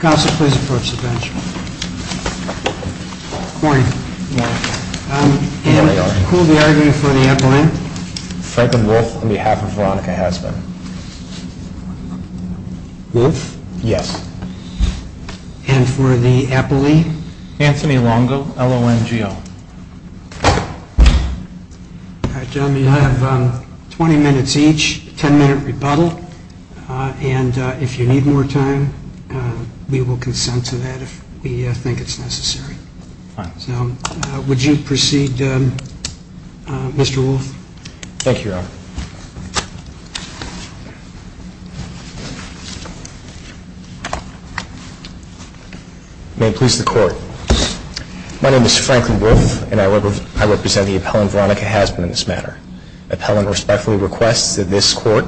Council please approach the bench. Good morning. Who will be arguing for the Appaline? Frederick Wolfe on behalf of Veronica Hasburn. Wolfe? Yes. And for the Appaline? Anthony Longo, L-O-N-G-O. Gentlemen, you have 20 minutes each, a 10 minute rebuttal. And if you need more time, we will consent to that if we think it's necessary. Would you proceed, Mr. Wolfe? Thank you, Your Honor. May it please the Court. My name is Franklin Wolfe and I represent the Appaline Veronica Hasburn in this matter. The Appaline respectfully requests that this Court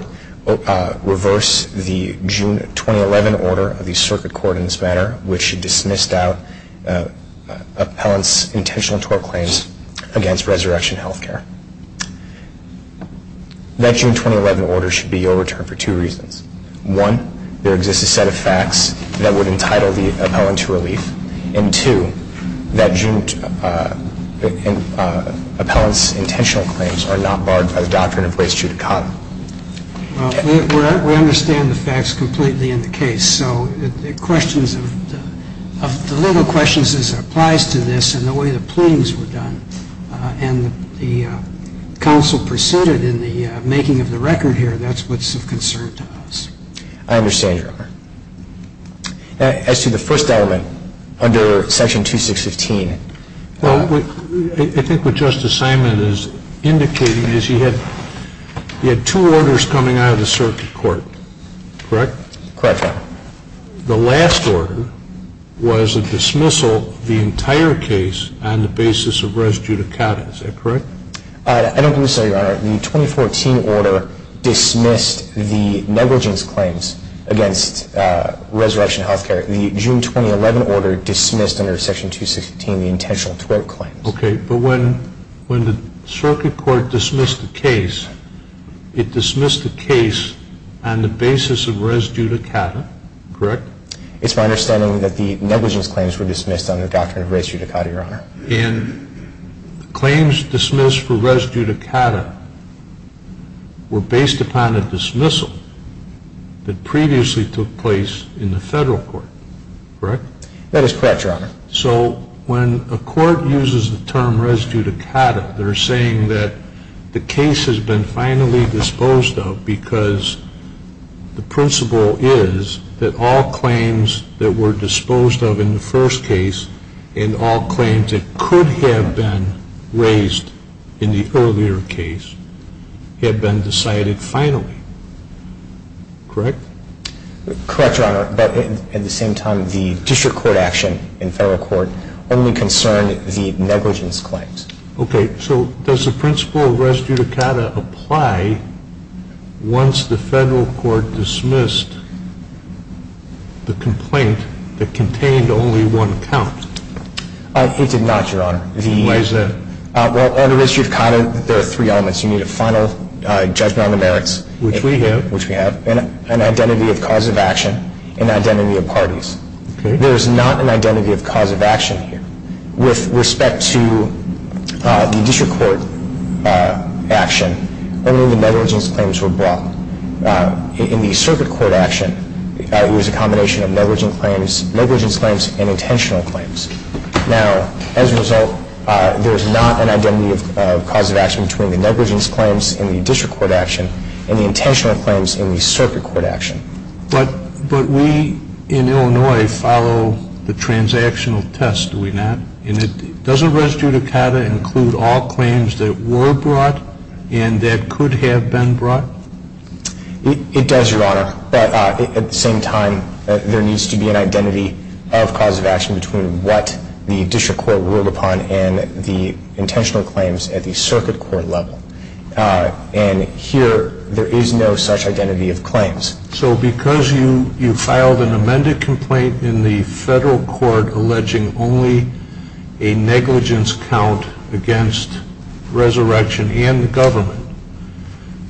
reverse the June 2011 order of the Circuit Court in this matter, which dismissed out Appaline's intentional tort claims against Resurrection Health Care. That June 2011 order should be overturned for two reasons. One, there exists a set of facts that would entitle the Appaline to relief. And two, that Appaline's intentional claims are not barred by the doctrine of res judicata. Well, we understand the facts completely in the case. So the legal questions as it applies to this and the way the pleadings were done and the counsel preceded in the making of the record here, that's what's of concern to us. I understand, Your Honor. As to the first element under Section 2615. Well, I think what Justice Simon is indicating is he had two orders coming out of the Circuit Court. Correct? Correct, Your Honor. The last order was a dismissal of the entire case on the basis of res judicata. Is that correct? I don't think so, Your Honor. The 2014 order dismissed the negligence claims against Resurrection Health Care. The June 2011 order dismissed under Section 216 the intentional tort claims. Okay. But when the Circuit Court dismissed the case, it dismissed the case on the basis of res judicata. Correct? It's my understanding that the negligence claims were dismissed under the doctrine of res judicata, Your Honor. And the claims dismissed for res judicata were based upon a dismissal that previously took place in the Federal Court. Correct? That is correct, Your Honor. So when a court uses the term res judicata, they're saying that the case has been finally disposed of because the principle is that all claims that were disposed of in the first case and all claims that could have been raised in the earlier case have been decided finally. Correct? Correct, Your Honor. But at the same time, the District Court action in Federal Court only concerned the negligence claims. Okay. So does the principle of res judicata apply once the Federal Court dismissed the complaint that contained only one count? It did not, Your Honor. Why is that? Well, under res judicata, there are three elements. You need a final judgment on the merits. Which we have. An identity of cause of action. An identity of parties. There is not an identity of cause of action here. With respect to the District Court action, only the negligence claims were brought. In the Circuit Court action, it was a combination of negligence claims and intentional claims. Now, as a result, there is not an identity of cause of action between the negligence claims in the District Court action and the intentional claims in the Circuit Court action. But we in Illinois follow the transactional test, do we not? Does a res judicata include all claims that were brought and that could have been brought? It does, Your Honor. But at the same time, there needs to be an identity of cause of action between what the District Court ruled upon and the intentional claims at the Circuit Court level. And here, there is no such identity of claims. So because you filed an amended complaint in the federal court alleging only a negligence count against resurrection and the government,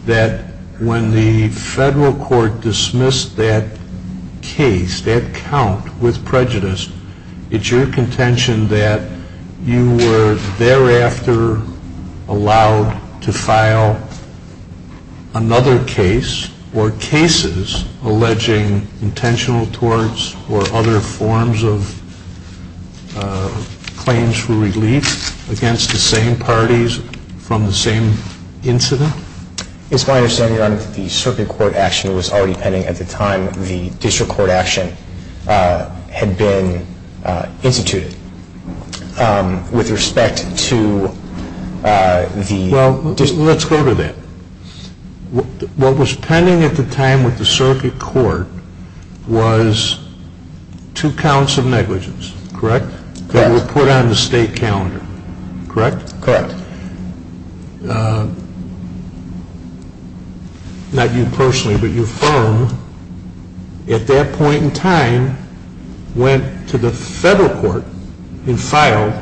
that when the federal court dismissed that case, that count with prejudice, it's your contention that you were thereafter allowed to file another case or cases alleging intentional torts or other forms of claims for relief against the same parties from the same incident? It's my understanding, Your Honor, that the Circuit Court action was already pending at the time the District Court action had been instituted. With respect to the... Well, let's go to that. What was pending at the time with the Circuit Court was two counts of negligence, correct? Correct. That were put on the state calendar, correct? Correct. And the District Court, not you personally, but your firm, at that point in time went to the federal court and filed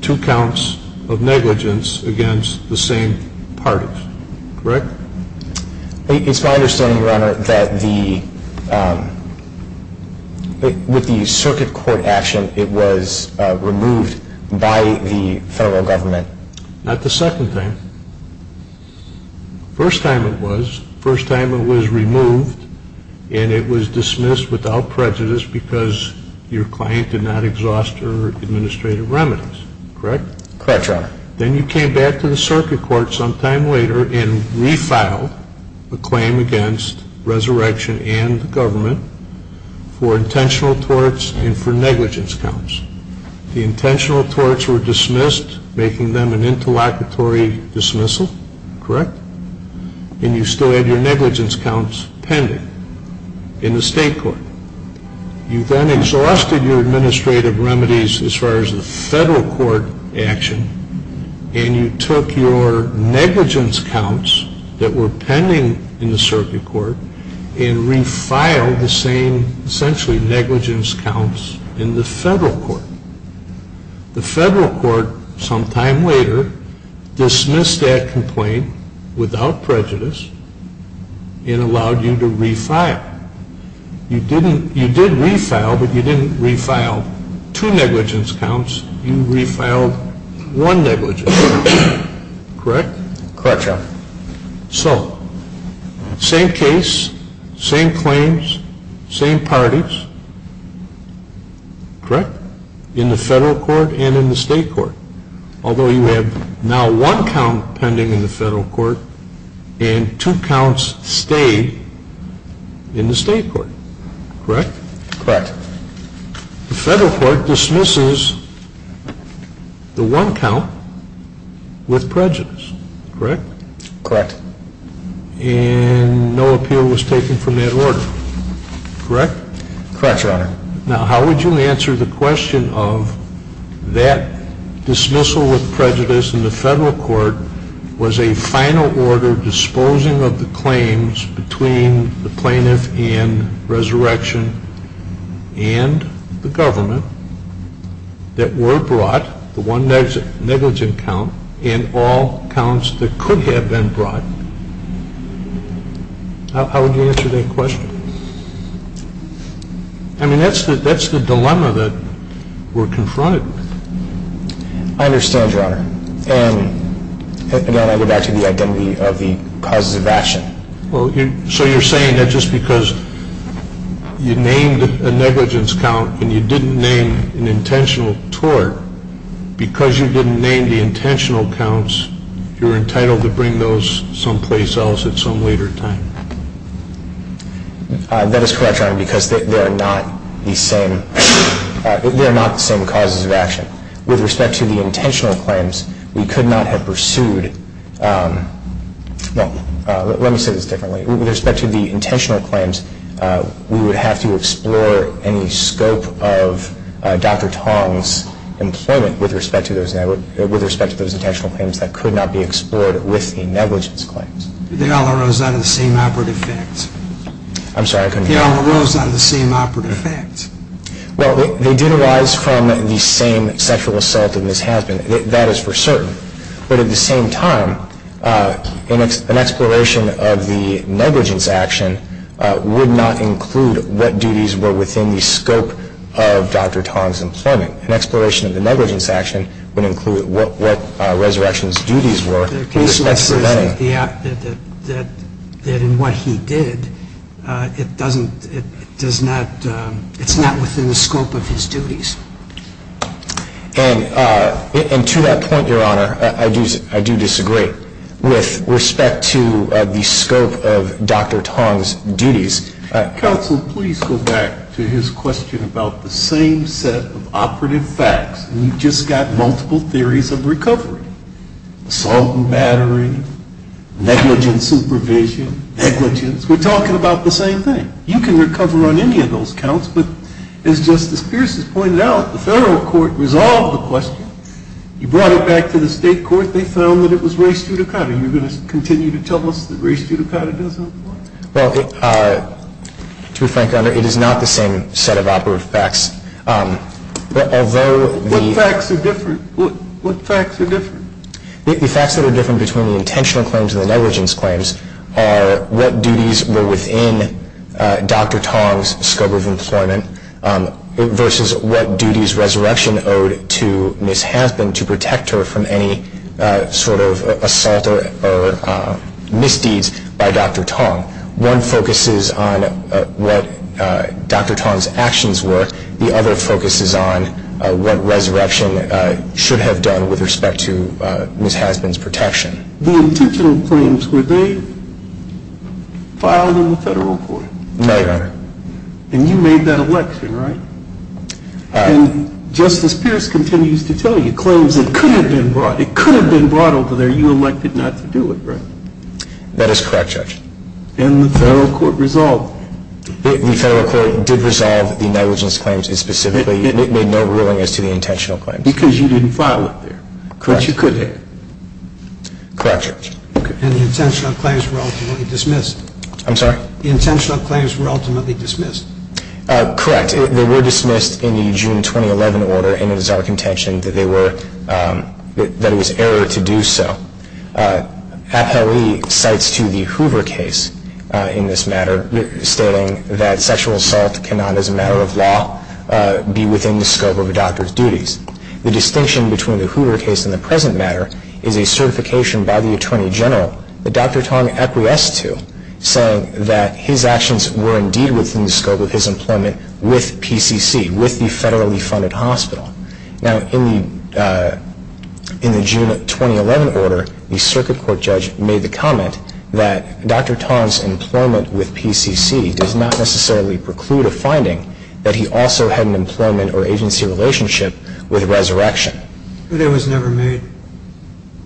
two counts of negligence against the same parties, correct? It's my understanding, Your Honor, that with the Circuit Court action, it was removed by the federal government. Not the second time. First time it was. First time it was removed and it was dismissed without prejudice because your client did not exhaust her administrative remedies, correct? Correct, Your Honor. Then you came back to the Circuit Court sometime later and refiled a claim against resurrection and government for intentional torts and for negligence counts. The intentional torts were dismissed, making them an interlocutory dismissal, correct? And you still had your negligence counts pending in the state court. You then exhausted your administrative remedies as far as the federal court action and you took your negligence counts that were pending in the Circuit Court and refiled the same essentially negligence counts in the federal court. The federal court sometime later dismissed that complaint without prejudice and allowed you to refile. You did refile, but you didn't refile two negligence counts. You refiled one negligence count, correct? Correct, Your Honor. So, same case, same claims, same parties, correct? In the federal court and in the state court. Although you have now one count pending in the federal court and two counts stayed in the state court, correct? Correct. The federal court dismisses the one count with prejudice, correct? Correct. And no appeal was taken from that order, correct? Correct, Your Honor. Now, how would you answer the question of that dismissal with prejudice in the federal court was a final order disposing of the claims between the plaintiff and resurrection and the government that were brought, the one negligence count and all counts that could have been brought? How would you answer that question? I mean, that's the dilemma that we're confronted with. I understand, Your Honor. And then I go back to the identity of the causes of action. Well, so you're saying that just because you named a negligence count and you didn't name an intentional tort, because you didn't name the intentional counts, you're entitled to bring those someplace else at some later time. That is correct, Your Honor, because they are not the same causes of action. With respect to the intentional claims, we could not have pursued. Well, let me say this differently. With respect to the intentional claims, we would have to explore any scope of Dr. Tong's employment with respect to those intentional claims that could not be explored with the negligence claims. They all arose out of the same operative fact. I'm sorry, I couldn't hear you. They all arose out of the same operative fact. Well, they did arise from the same sexual assault that has happened. That is for certain. But at the same time, an exploration of the negligence action would not include what duties were within the scope of Dr. Tong's employment. An exploration of the negligence action would include what resurrection's duties were. That's for certain. That in what he did, it's not within the scope of his duties. And to that point, Your Honor, I do disagree with respect to the scope of Dr. Tong's duties. Counsel, please go back to his question about the same set of operative facts. You've just got multiple theories of recovery. Assault and battering, negligent supervision, negligence. We're talking about the same thing. You can recover on any of those counts. But as Justice Pierce has pointed out, the federal court resolved the question. You brought it back to the state court. They found that it was re studicata. Are you going to continue to tell us that re studicata doesn't apply? Well, to be frank, Your Honor, it is not the same set of operative facts. What facts are different? The facts that are different between the intentional claims and the negligence claims are what duties were within Dr. Tong's scope of employment versus what duties resurrection owed to Ms. Hasbin to protect her from any sort of assault or misdeeds by Dr. Tong. One focuses on what Dr. Tong's actions were. The other focuses on what resurrection should have done with respect to Ms. Hasbin's protection. The intentional claims, were they filed in the federal court? No, Your Honor. And you made that election, right? And Justice Pierce continues to tell you claims that could have been brought. It could have been brought over there. You elected not to do it, right? That is correct, Judge. And the federal court resolved it? The federal court did resolve the negligence claims. It specifically made no ruling as to the intentional claims. Because you didn't file it there. Correct. But you could have. Correct, Judge. And the intentional claims were ultimately dismissed. I'm sorry? The intentional claims were ultimately dismissed. Correct. They were dismissed in the June 2011 order, and it is our contention that they were, that it was error to do so. Appellee cites to the Hoover case in this matter, stating that sexual assault cannot, as a matter of law, be within the scope of a doctor's duties. The distinction between the Hoover case and the present matter is a certification by the Attorney General that Dr. Tong acquiesced to, saying that his actions were indeed within the scope of his employment with PCC, with the federally funded hospital. Now, in the June 2011 order, the circuit court judge made the comment that Dr. Tong's employment with PCC does not necessarily preclude a finding that he also had an employment or agency relationship with resurrection. But it was never made.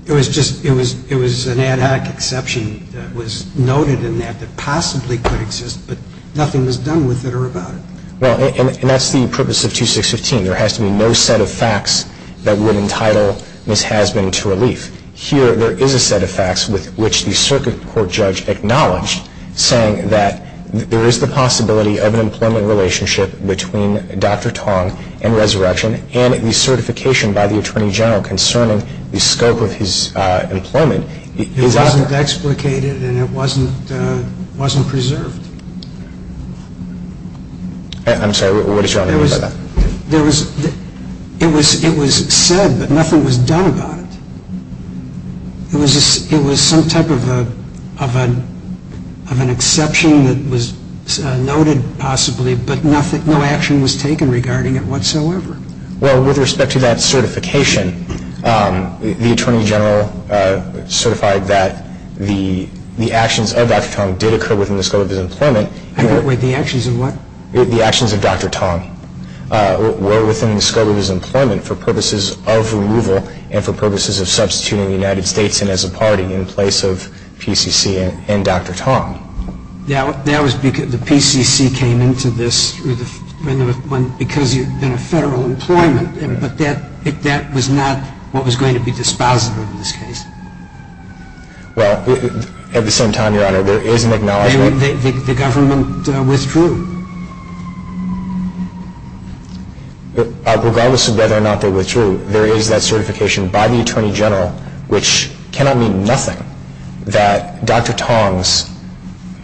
It was just, it was an ad hoc exception that was noted in that that possibly could exist, but nothing was done with it or about it. Well, and that's the purpose of 2615. There has to be no set of facts that would entitle Ms. Hasbin to relief. Here, there is a set of facts with which the circuit court judge acknowledged, saying that there is the possibility of an employment relationship between Dr. Tong and resurrection, and the certification by the Attorney General concerning the scope of his employment. It wasn't explicated and it wasn't preserved. I'm sorry, what did you want to say about that? It was said, but nothing was done about it. It was some type of an exception that was noted possibly, but no action was taken regarding it whatsoever. Well, with respect to that certification, the Attorney General certified that the actions of Dr. Tong did occur within the scope of his employment. Wait, the actions of what? The actions of Dr. Tong were within the scope of his employment for purposes of removal and for purposes of substituting the United States in as a party in place of PCC and Dr. Tong. That was because the PCC came into this because you had been a federal employment, but that was not what was going to be dispositive in this case. Well, at the same time, Your Honor, there is an acknowledgment. The government withdrew. Regardless of whether or not they withdrew, there is that certification by the Attorney General, which cannot mean nothing that Dr. Tong's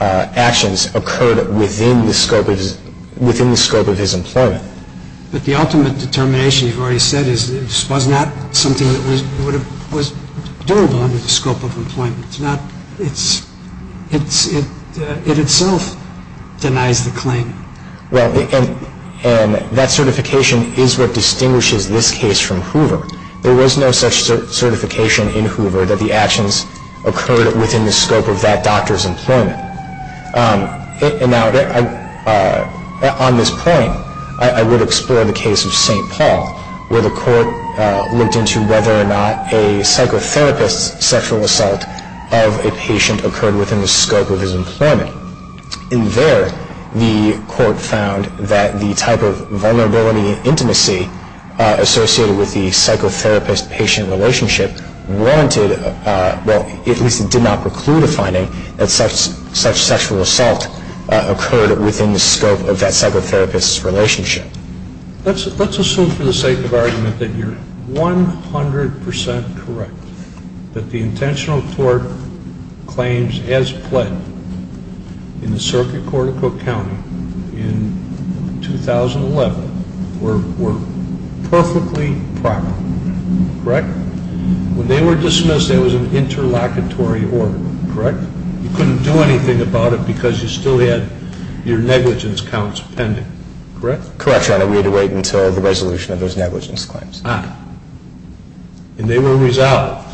actions occurred within the scope of his employment. But the ultimate determination, you've already said, was not something that was doable under the scope of employment. It itself denies the claim. Well, and that certification is what distinguishes this case from Hoover. There was no such certification in Hoover that the actions occurred within the scope of that doctor's employment. Now, on this point, I would explore the case of St. Paul, where the court looked into whether or not a psychotherapist's sexual assault of a patient occurred within the scope of his employment. In there, the court found that the type of vulnerability and intimacy associated with the psychotherapist-patient relationship warranted, well, at least it did not preclude a finding, that such sexual assault occurred within the scope of that psychotherapist's relationship. Let's assume for the sake of argument that you're 100 percent correct, that the intentional tort claims as pledged in the Circuit Court of Cook County in 2011 were perfectly proper. Correct? When they were dismissed, there was an interlocutory order. Correct? You couldn't do anything about it because you still had your negligence counts pending. Correct? Correct, Your Honor. We had to wait until the resolution of those negligence claims. Ah. And they were resolved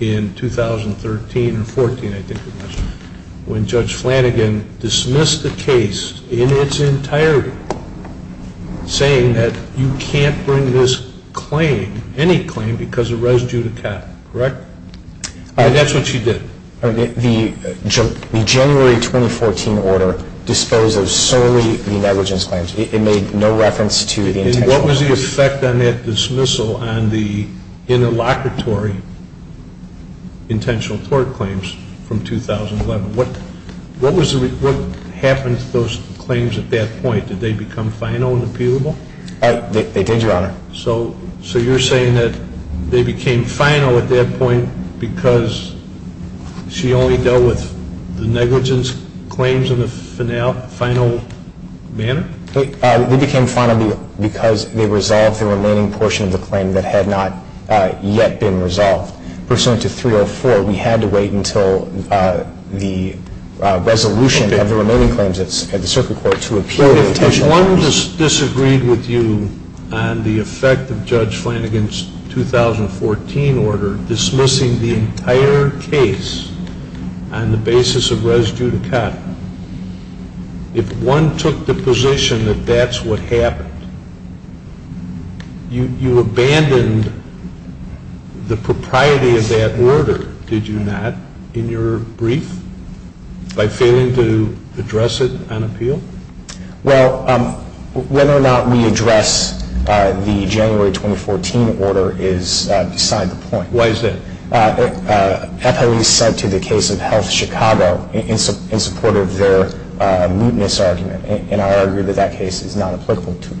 in 2013 or 14, I think it was, when Judge Flanagan dismissed the case in its entirety, saying that you can't bring this claim, any claim, because it res due to capital. Correct? And that's what you did. The January 2014 order disposed of solely the negligence claims. It made no reference to the intentional claims. And what was the effect on that dismissal on the interlocutory intentional tort claims from 2011? What happened to those claims at that point? Did they become final and imputable? They did, Your Honor. So you're saying that they became final at that point because she only dealt with the negligence claims in a final manner? They became final because they resolved the remaining portion of the claim that had not yet been resolved. Pursuant to 304, we had to wait until the resolution of the remaining claims at the circuit court to appeal the intentional claims. If one disagreed with you on the effect of Judge Flanagan's 2014 order dismissing the entire case on the basis of res due to capital, if one took the position that that's what happened, you abandoned the propriety of that order, did you not, in your brief, by failing to address it on appeal? Well, whether or not we address the January 2014 order is beside the point. Why is that? FLE sent to the case of Health Chicago in support of their mootness argument, and I argue that that case is not applicable to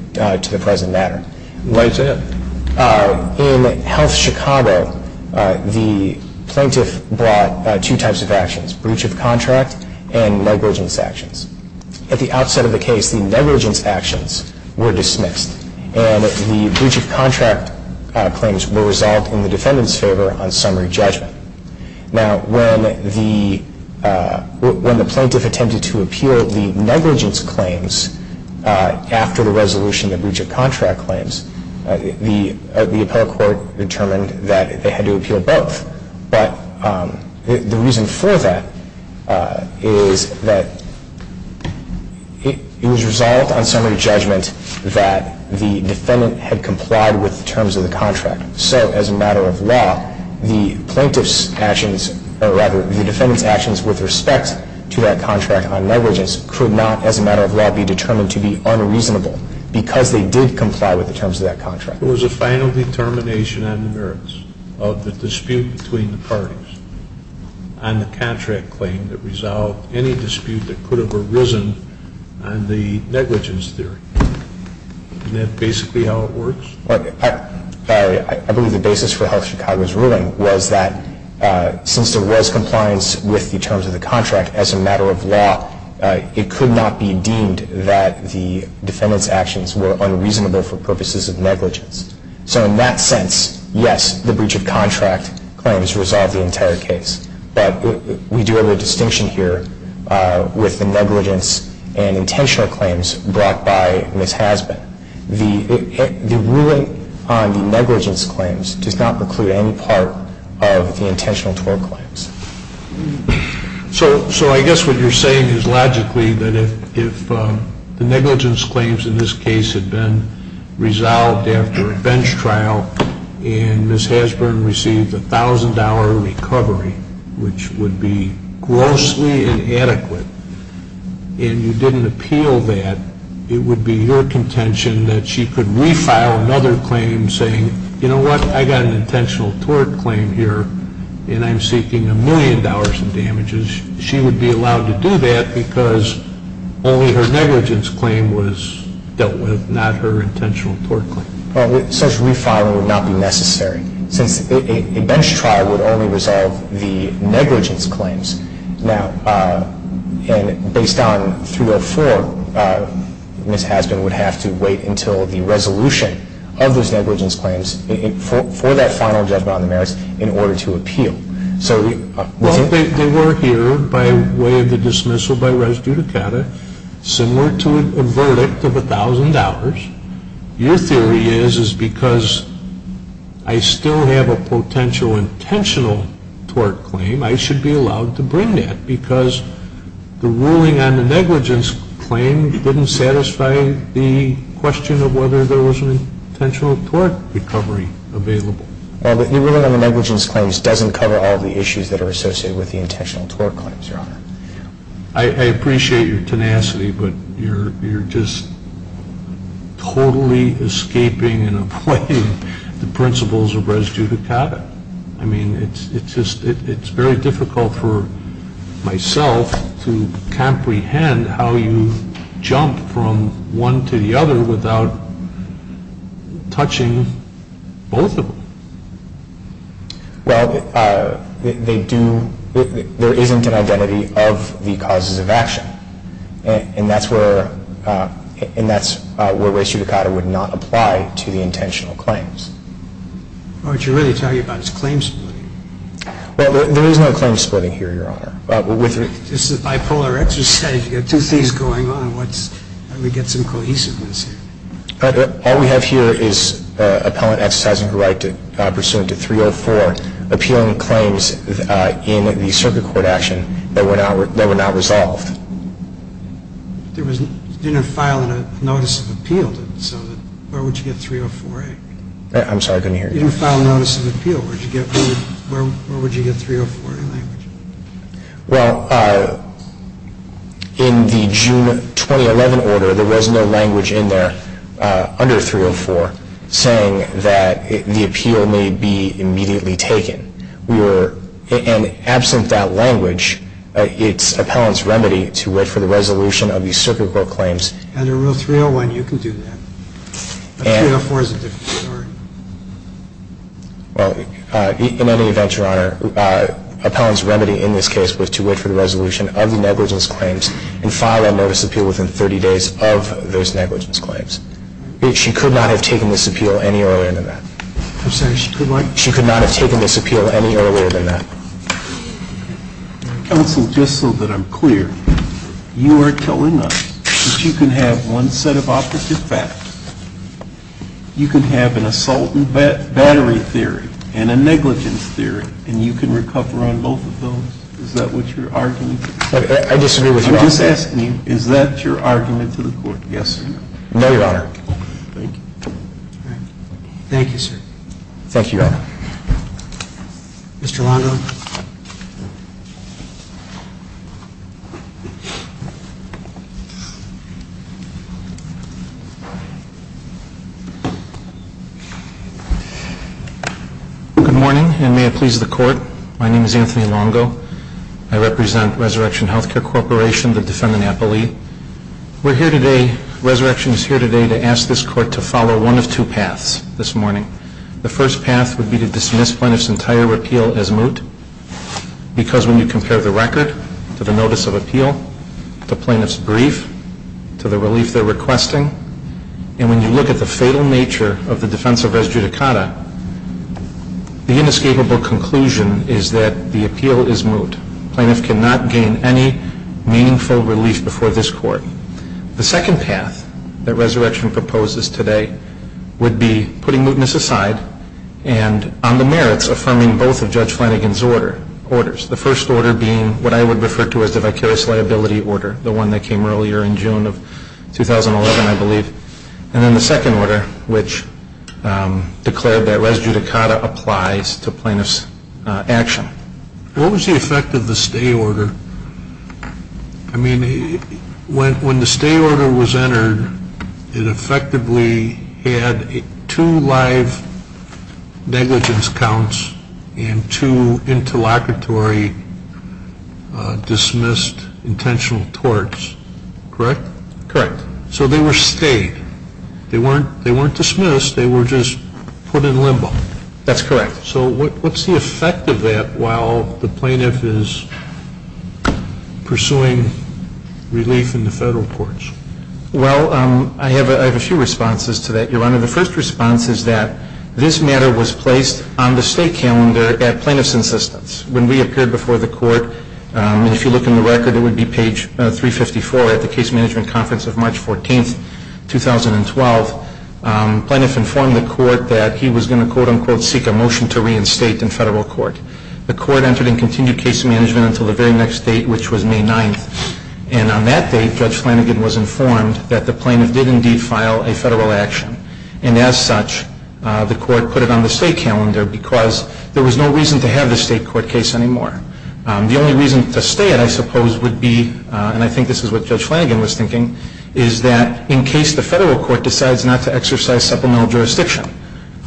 the present matter. Why is that? In Health Chicago, the plaintiff brought two types of actions, breach of contract and negligence actions. At the outset of the case, the negligence actions were dismissed, and the breach of contract claims were resolved in the defendant's favor on summary judgment. Now, when the plaintiff attempted to appeal the negligence claims after the resolution of the breach of contract claims, the appellate court determined that they had to appeal both. But the reason for that is that it was resolved on summary judgment that the defendant had complied with the terms of the contract. So, as a matter of law, the plaintiff's actions, or rather, the defendant's actions with respect to that contract on negligence could not, as a matter of law, be determined to be unreasonable because they did comply with the terms of that contract. There was a final determination on the merits of the dispute between the parties and the contract claim that resolved any dispute that could have arisen on the negligence theory. Isn't that basically how it works? I believe the basis for Health Chicago's ruling was that since there was compliance with the terms of the contract, as a matter of law, it could not be deemed that the defendant's actions were unreasonable for purposes of negligence. So, in that sense, yes, the breach of contract claims resolved the entire case. But we do have a distinction here with the negligence and intentional claims brought by Ms. Hasbun. The ruling on the negligence claims does not preclude any part of the intentional tort claims. So, I guess what you're saying is logically that if the negligence claims in this case had been resolved after a bench trial and Ms. Hasbun received a $1,000 recovery, which would be grossly inadequate, and you didn't appeal that, it would be your contention that she could refile another claim saying, you know what, I got an intentional tort claim here and I'm seeking a million dollars in damages. She would be allowed to do that because only her negligence claim was dealt with, not her intentional tort claim. Well, such refiling would not be necessary since a bench trial would only resolve the negligence claims. Now, based on 304, Ms. Hasbun would have to wait until the resolution of those negligence claims for that final judgment on the merits in order to appeal. Well, they were here by way of the dismissal by res judicata, similar to a verdict of $1,000. Your theory is, is because I still have a potential intentional tort claim, I should be allowed to bring that because the ruling on the negligence claim didn't satisfy the question of whether there was an intentional tort recovery available. Well, the ruling on the negligence claims doesn't cover all the issues that are associated with the intentional tort claims, Your Honor. I appreciate your tenacity, but you're just totally escaping and avoiding the principles of res judicata. I mean, it's very difficult for myself to comprehend how you jump from one to the other without touching both of them. Well, there isn't an identity of the causes of action, and that's where res judicata would not apply to the intentional claims. What you're really talking about is claim splitting. Well, there is no claim splitting here, Your Honor. This is bipolar exercise. You've got two things going on. Let me get some cohesiveness here. All we have here is appellant exercising a right pursuant to 304, appealing claims in the circuit court action that were not resolved. You didn't file a notice of appeal. Where would you get 304A? I'm sorry, I couldn't hear you. You didn't file a notice of appeal. Where would you get 304A language? Well, in the June 2011 order, there was no language in there under 304 saying that the appeal may be immediately taken. And absent that language, it's appellant's remedy to wait for the resolution of these circuit court claims. Under Rule 301, you can do that. But 304 is a different story. Well, in any event, Your Honor, appellant's remedy in this case was to wait for the resolution of the negligence claims and file a notice of appeal within 30 days of those negligence claims. She could not have taken this appeal any earlier than that. I'm sorry, she could not? She could not have taken this appeal any earlier than that. Counsel, just so that I'm clear, you are telling us that you can have one set of operative facts. You can have an assault and battery theory and a negligence theory, and you can recover on both of those? Is that what you're arguing? I disagree with your argument. I'm just asking you, is that your argument to the court? Yes, sir. No, Your Honor. Thank you. Thank you, sir. Thank you, Your Honor. Mr. Longo? Good morning, and may it please the court. My name is Anthony Longo. I represent Resurrection Health Care Corporation, the defendant, Applee. We're here today, Resurrection is here today, to ask this court to follow one of two paths this morning. The first path would be to dismiss plaintiff's entire appeal as moot, because when you compare the record to the notice of appeal, to plaintiff's brief, to the relief they're requesting, and when you look at the fatal nature of the defense of res judicata, the inescapable conclusion is that the appeal is moot. Plaintiff cannot gain any meaningful relief before this court. The second path that Resurrection proposes today would be putting mootness aside and on the merits affirming both of Judge Flanagan's orders, the first order being what I would refer to as the vicarious liability order, the one that came earlier in June of 2011, I believe, and then the second order, which declared that res judicata applies to plaintiff's action. What was the effect of the stay order? It effectively had two live negligence counts and two interlocutory dismissed intentional torts, correct? Correct. So they were stayed. They weren't dismissed. They were just put in limbo. That's correct. So what's the effect of that while the plaintiff is pursuing relief in the federal courts? Well, I have a few responses to that, Your Honor. The first response is that this matter was placed on the stay calendar at plaintiff's insistence. When we appeared before the court, and if you look in the record, it would be page 354 at the case management conference of March 14th, 2012, plaintiff informed the court that he was going to, quote, unquote, seek a motion to reinstate in federal court. The court entered and continued case management until the very next date, which was May 9th, and on that date, Judge Flanagan was informed that the plaintiff did indeed file a federal action, and as such, the court put it on the stay calendar because there was no reason to have the state court case anymore. The only reason to stay it, I suppose, would be, and I think this is what Judge Flanagan was thinking, is that in case the federal court decides not to exercise supplemental jurisdiction,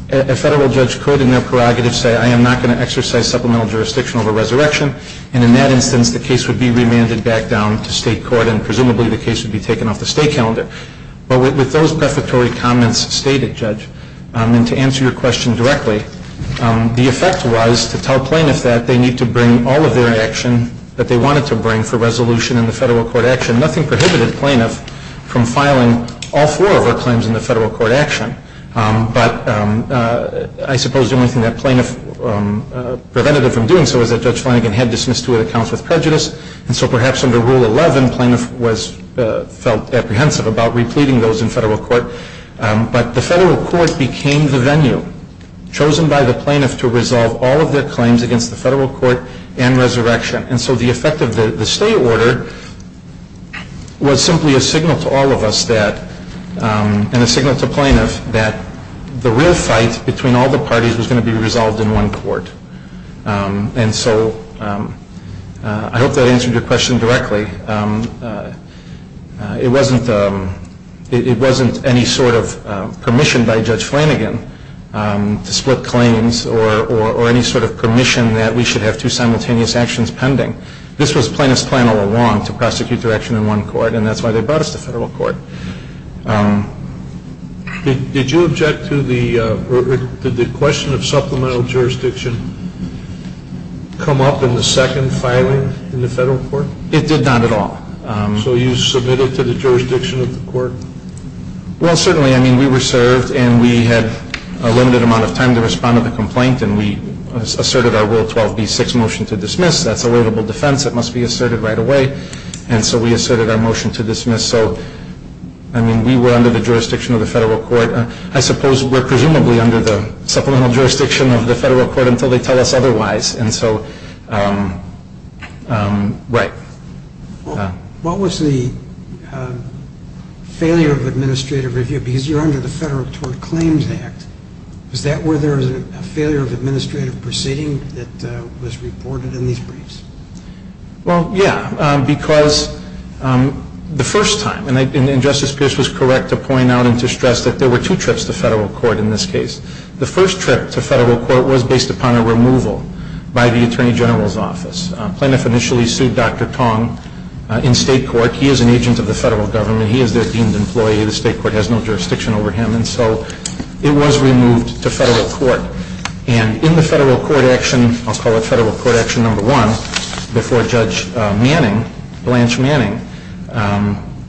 a federal judge could in their prerogative say, I am not going to exercise supplemental jurisdiction over resurrection, and in that instance, the case would be remanded back down to state court and presumably the case would be taken off the stay calendar. But with those prefatory comments stated, Judge, and to answer your question directly, the effect was to tell plaintiffs that they need to bring all of their action that they wanted to bring for resolution in the federal court action. Nothing prohibited plaintiffs from filing all four of their claims in the federal court action, but I suppose the only thing that plaintiffs prevented them from doing so was that Judge Flanagan had dismissed two of the accounts with prejudice, and so perhaps under Rule 11, plaintiffs felt apprehensive about repleting those in federal court, but the federal court became the venue chosen by the plaintiff to resolve all of their claims against the federal court and resurrection. And so the effect of the stay order was simply a signal to all of us that, and a signal to plaintiffs that the real fight between all the parties was going to be resolved in one court. And so I hope that answered your question directly. It wasn't any sort of permission by Judge Flanagan to split claims or any sort of permission that we should have two simultaneous actions pending. This was plaintiffs' plan all along to prosecute their action in one court, and that's why they brought us to federal court. Did you object to the question of supplemental jurisdiction come up in the second filing in the federal court? It did not at all. So you submitted to the jurisdiction of the court? Well, certainly. I mean, we were served, and we had a limited amount of time to respond to the complaint, and we asserted our Rule 12b-6 motion to dismiss. That's a livable defense. It must be asserted right away. And so we asserted our motion to dismiss. So, I mean, we were under the jurisdiction of the federal court. I suppose we're presumably under the supplemental jurisdiction of the federal court until they tell us otherwise. And so, right. What was the failure of administrative review? Because you're under the Federal Tort Claims Act. Was that where there was a failure of administrative proceeding that was reported in these briefs? Well, yeah, because the first time, and Justice Pierce was correct to point out and to stress that there were two trips to federal court in this case. The first trip to federal court was based upon a removal by the Attorney General's office. Plaintiff initially sued Dr. Tong in state court. He is an agent of the federal government. He is their deemed employee. The state court has no jurisdiction over him. And so it was removed to federal court. And in the federal court action, I'll call it federal court action number one, before Judge Manning, Blanche Manning,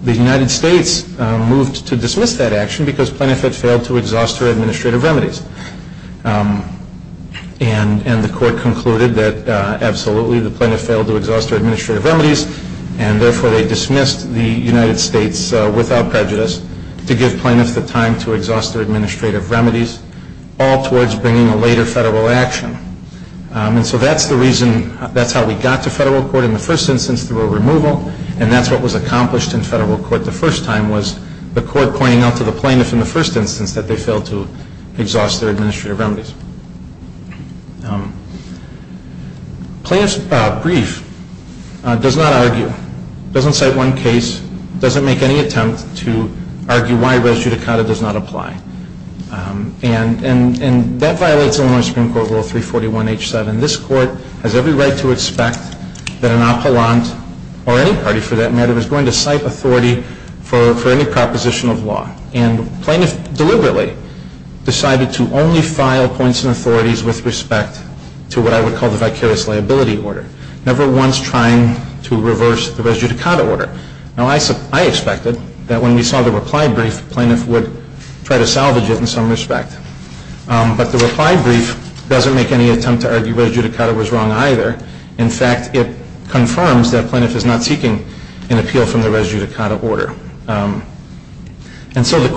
the United States moved to dismiss that action because plaintiff had failed to exhaust her administrative remedies. And the court concluded that absolutely the plaintiff failed to exhaust her administrative remedies, and therefore they dismissed the United States without prejudice to give plaintiffs the time to exhaust their administrative remedies, all towards bringing a later federal action. And so that's the reason, that's how we got to federal court in the first instance through a removal, and that's what was accomplished in federal court the first time was the court pointing out to the plaintiff in the first instance that they failed to exhaust their administrative remedies. Plaintiff's brief does not argue, doesn't cite one case, doesn't make any attempt to argue why res judicata does not apply. And that violates Illinois Supreme Court Rule 341H7. This court has every right to expect that an appellant, or any party for that matter, is going to cite authority for any proposition of law. And plaintiff deliberately decided to only file points and authorities with respect to what I would call the vicarious liability order, never once trying to reverse the res judicata order. Now I expected that when we saw the reply brief, plaintiff would try to salvage it in some respect. But the reply brief doesn't make any attempt to argue res judicata was wrong either. In fact, it confirms that plaintiff is not seeking an appeal from the res judicata order. And so the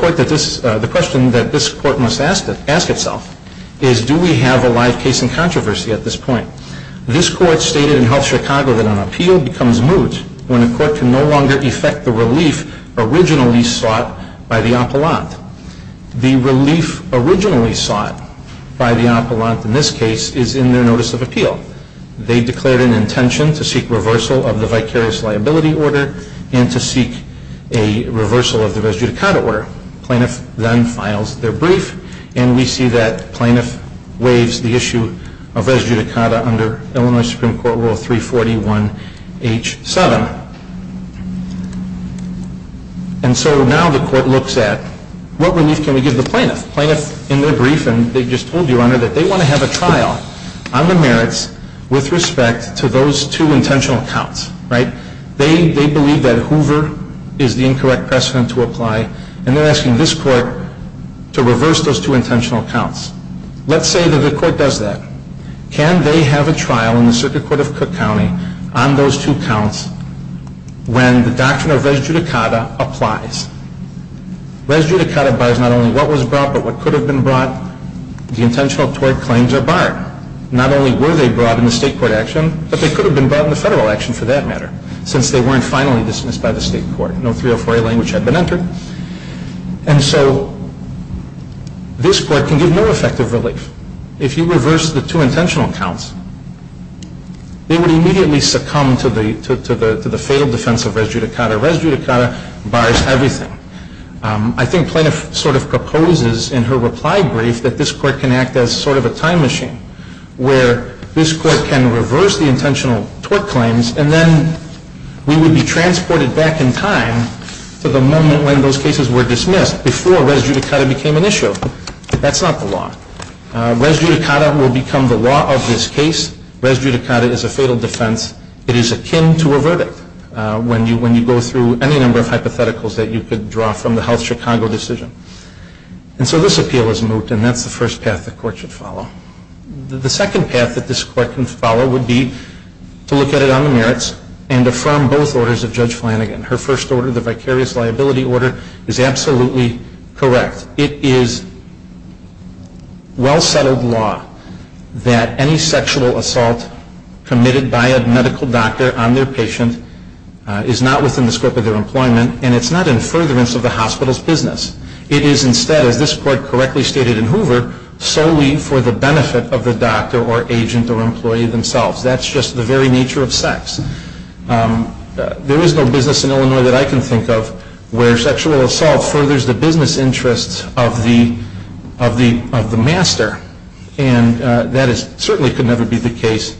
question that this court must ask itself is do we have a live case in controversy at this point? This court stated in Health Chicago that an appeal becomes moot when a court can no longer effect the relief originally sought by the appellant. The relief originally sought by the appellant in this case is in their notice of appeal. They declared an intention to seek reversal of the vicarious liability order and to seek a reversal of the res judicata order. Plaintiff then files their brief, and we see that plaintiff waives the issue of res judicata under Illinois Supreme Court Rule 341H7. And so now the court looks at what relief can we give the plaintiff? Plaintiff in their brief, and they just told you, Your Honor, that they want to have a trial on the merits with respect to those two intentional counts, right? They believe that Hoover is the incorrect precedent to apply, and they're asking this court to reverse those two intentional counts. Let's say that the court does that. Can they have a trial in the Circuit Court of Cook County on those two counts when the doctrine of res judicata applies? Res judicata bars not only what was brought but what could have been brought. The intentional tort claims are barred. Not only were they brought in the state court action, but they could have been brought in the federal action for that matter, since they weren't finally dismissed by the state court. No 304A language had been entered. And so this court can give no effective relief. If you reverse the two intentional counts, they would immediately succumb to the fatal defense of res judicata. Res judicata bars everything. I think Plaintiff sort of proposes in her reply brief that this court can act as sort of a time machine, where this court can reverse the intentional tort claims, and then we would be transported back in time to the moment when those cases were dismissed, before res judicata became an issue. But that's not the law. Res judicata will become the law of this case. Res judicata is a fatal defense. It is akin to a verdict, when you go through any number of hypotheticals that you could draw from the Health Chicago decision. And so this appeal is moot, and that's the first path the court should follow. The second path that this court can follow would be to look at it on the merits, and affirm both orders of Judge Flanagan. Her first order, the vicarious liability order, is absolutely correct. It is well-settled law that any sexual assault committed by a medical doctor on their patient is not within the scope of their employment, and it's not in furtherance of the hospital's business. It is instead, as this court correctly stated in Hoover, solely for the benefit of the doctor or agent or employee themselves. That's just the very nature of sex. There is no business in Illinois that I can think of where sexual assault furthers the business interests of the master, and that certainly could never be the case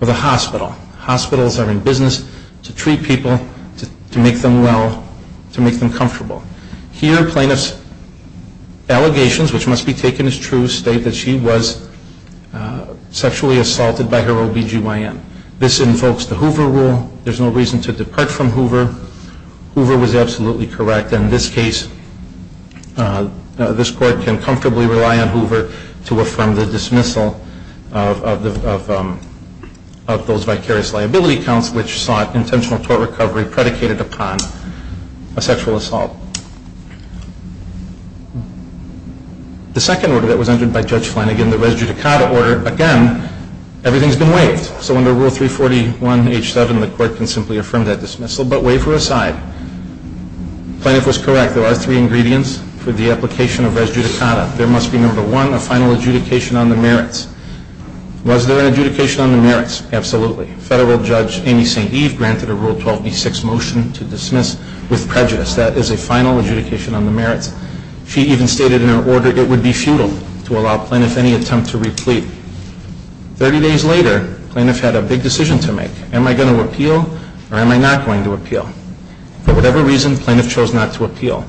with a hospital. Hospitals are in business to treat people, to make them well, to make them comfortable. Here, plaintiff's allegations, which must be taken as true, state that she was sexually assaulted by her OB-GYN. This invokes the Hoover rule. There's no reason to depart from Hoover. Hoover was absolutely correct. In this case, this court can comfortably rely on Hoover to affirm the dismissal of those vicarious liability counts, which sought intentional tort recovery predicated upon a sexual assault. The second order that was entered by Judge Flanagan, the res judicata order, again, everything's been waived. So under Rule 341H7, the court can simply affirm that dismissal. But waiver aside, plaintiff was correct. There are three ingredients for the application of res judicata. There must be, number one, a final adjudication on the merits. Was there an adjudication on the merits? Absolutely. Federal Judge Amy St. Eve granted a Rule 12B6 motion to dismiss with prejudice. That is a final adjudication on the merits. She even stated in her order it would be futile to allow plaintiff any attempt to replete. Thirty days later, plaintiff had a big decision to make. Am I going to appeal or am I not going to appeal? For whatever reason, plaintiff chose not to appeal.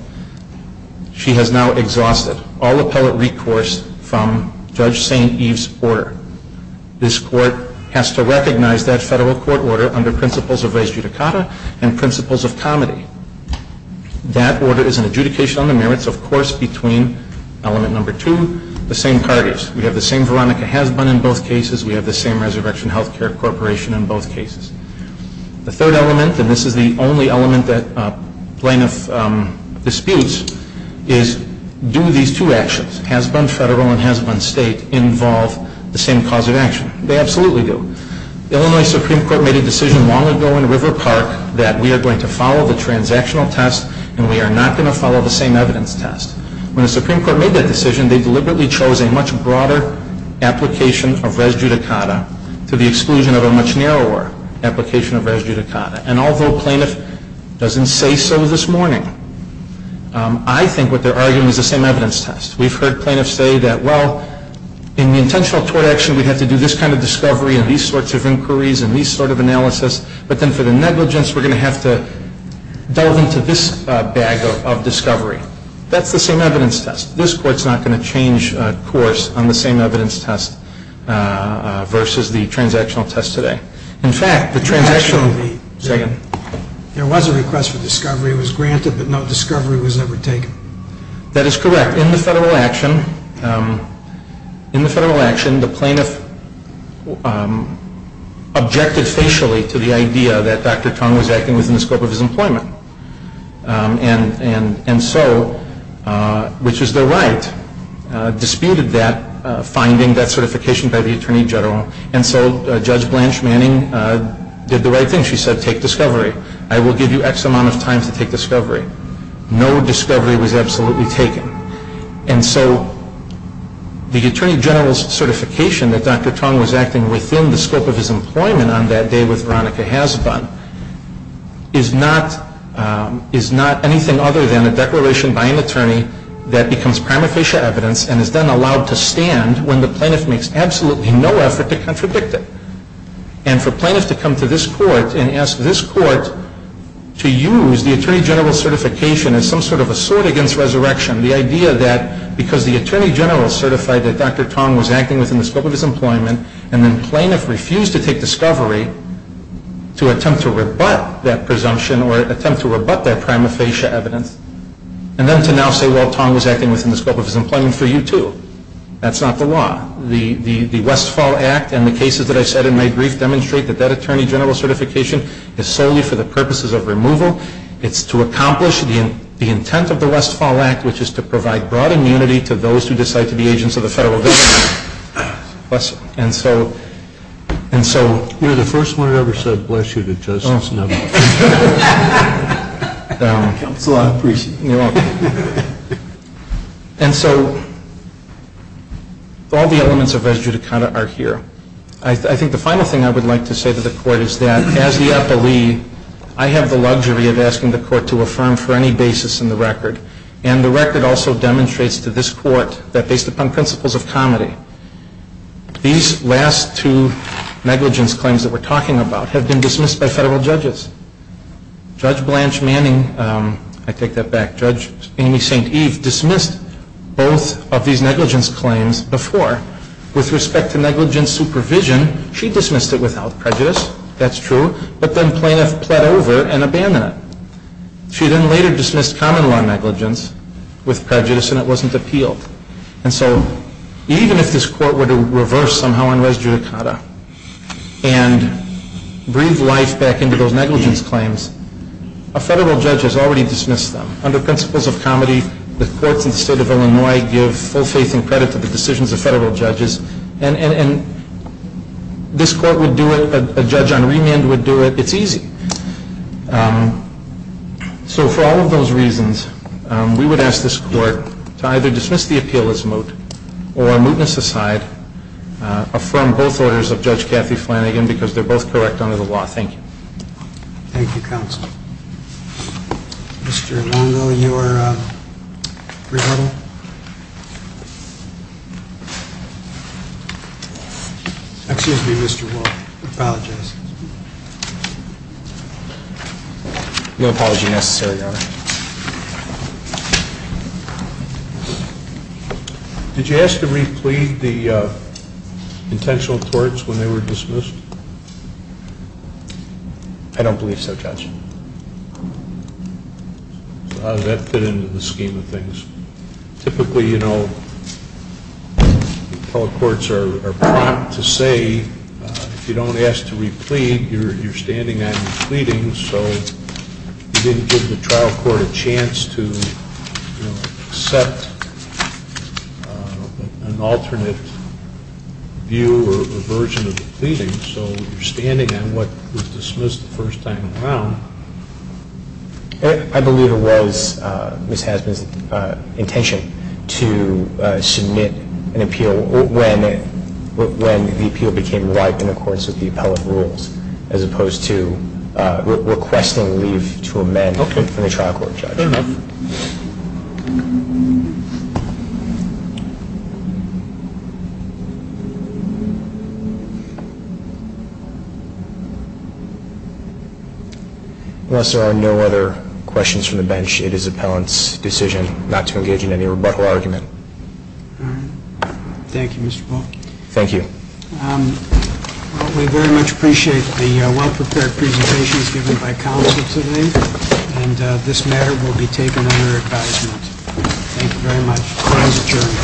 She has now exhausted all appellate recourse from Judge St. Eve's order. This court has to recognize that federal court order under principles of res judicata and principles of comity. That order is an adjudication on the merits, of course, between element number two, the same parties. We have the same Veronica Hasbun in both cases. We have the same Resurrection Healthcare Corporation in both cases. The third element, and this is the only element that plaintiff disputes, is do these two actions, Hasbun federal and Hasbun state, involve the same cause of action? They absolutely do. Illinois Supreme Court made a decision long ago in River Park that we are going to follow the transactional test and we are not going to follow the same evidence test. When the Supreme Court made that decision, they deliberately chose a much broader application of res judicata to the exclusion of a much narrower application of res judicata. And although plaintiff doesn't say so this morning, I think what they're arguing is the same evidence test. We've heard plaintiffs say that, well, in the intentional tort action we have to do this kind of discovery and these sorts of inquiries and these sort of analysis, but then for the negligence we're going to have to delve into this bag of discovery. That's the same evidence test. This Court's not going to change course on the same evidence test versus the transactional test today. In fact, the transactional... There was a request for discovery. It was granted, but no discovery was ever taken. That is correct. In the federal action, the plaintiff objected facially to the idea that Dr. Tong was acting within the scope of his employment. And so, which is their right, disputed that, finding that certification by the Attorney General, and so Judge Blanche Manning did the right thing. She said, take discovery. I will give you X amount of time to take discovery. No discovery was absolutely taken. And so the Attorney General's certification that Dr. Tong was acting within the scope of his employment on that day is not anything other than a declaration by an attorney that becomes prima facie evidence and is then allowed to stand when the plaintiff makes absolutely no effort to contradict it. And for plaintiff to come to this Court and ask this Court to use the Attorney General's certification as some sort of a sword against resurrection, the idea that because the Attorney General certified that Dr. Tong was acting within the scope of his employment and then plaintiff refused to take discovery to attempt to rebut that presumption or attempt to rebut that prima facie evidence, and then to now say, well, Tong was acting within the scope of his employment for you too. That's not the law. The Westfall Act and the cases that I said in my brief demonstrate that that Attorney General certification is solely for the purposes of removal. It's to accomplish the intent of the Westfall Act, which is to provide broad immunity to those who decide to be agents of the federal government. And so... You're the first one who ever said, bless you to justice. Oh, no. Counsel, I appreciate it. You're welcome. And so all the elements of res judicata are here. I think the final thing I would like to say to the Court is that as the appellee, I have the luxury of asking the Court to affirm for any basis in the record. And the record also demonstrates to this Court that based upon principles of comity, these last two negligence claims that we're talking about have been dismissed by federal judges. Judge Blanche Manning, I take that back, Judge Amy St. Eve, dismissed both of these negligence claims before. With respect to negligence supervision, she dismissed it without prejudice. That's true. But then plaintiff pled over and abandoned it. She then later dismissed common-law negligence with prejudice and it wasn't appealed. And so even if this Court were to reverse somehow on res judicata and breathe life back into those negligence claims, a federal judge has already dismissed them. Under principles of comity, the courts in the state of Illinois give full faith and credit to the decisions of federal judges, and this Court would do it, a judge on remand would do it, it's easy. So for all of those reasons, we would ask this Court to either dismiss the appeal as moot or mootness aside, affirm both orders of Judge Kathy Flanagan because they're both correct under the law. Thank you. Thank you, Counsel. Mr. Longo, you are rebuttal? Excuse me, Mr. Longo, I apologize. No apology necessary, Your Honor. Did you ask to replete the intentional torts when they were dismissed? I don't believe so, Judge. Typically, you know, appellate courts are prompt to say if you don't ask to replete, you're standing on your pleadings. So you didn't give the trial court a chance to accept an alternate view or version of the pleadings. So you're standing on what was dismissed the first time around. I believe it was Ms. Hazman's intention to submit an appeal when the appeal became ripe in accordance with the appellate rules as opposed to requesting leave to amend from the trial court, Judge. Fair enough. Unless there are no other questions from the bench, it is appellant's decision not to engage in any rebuttal argument. All right. Thank you, Mr. Paul. Thank you. We very much appreciate the well-prepared presentations given by counsel today, and this matter will be taken under advisement. Thank you very much. Crime's adjourned.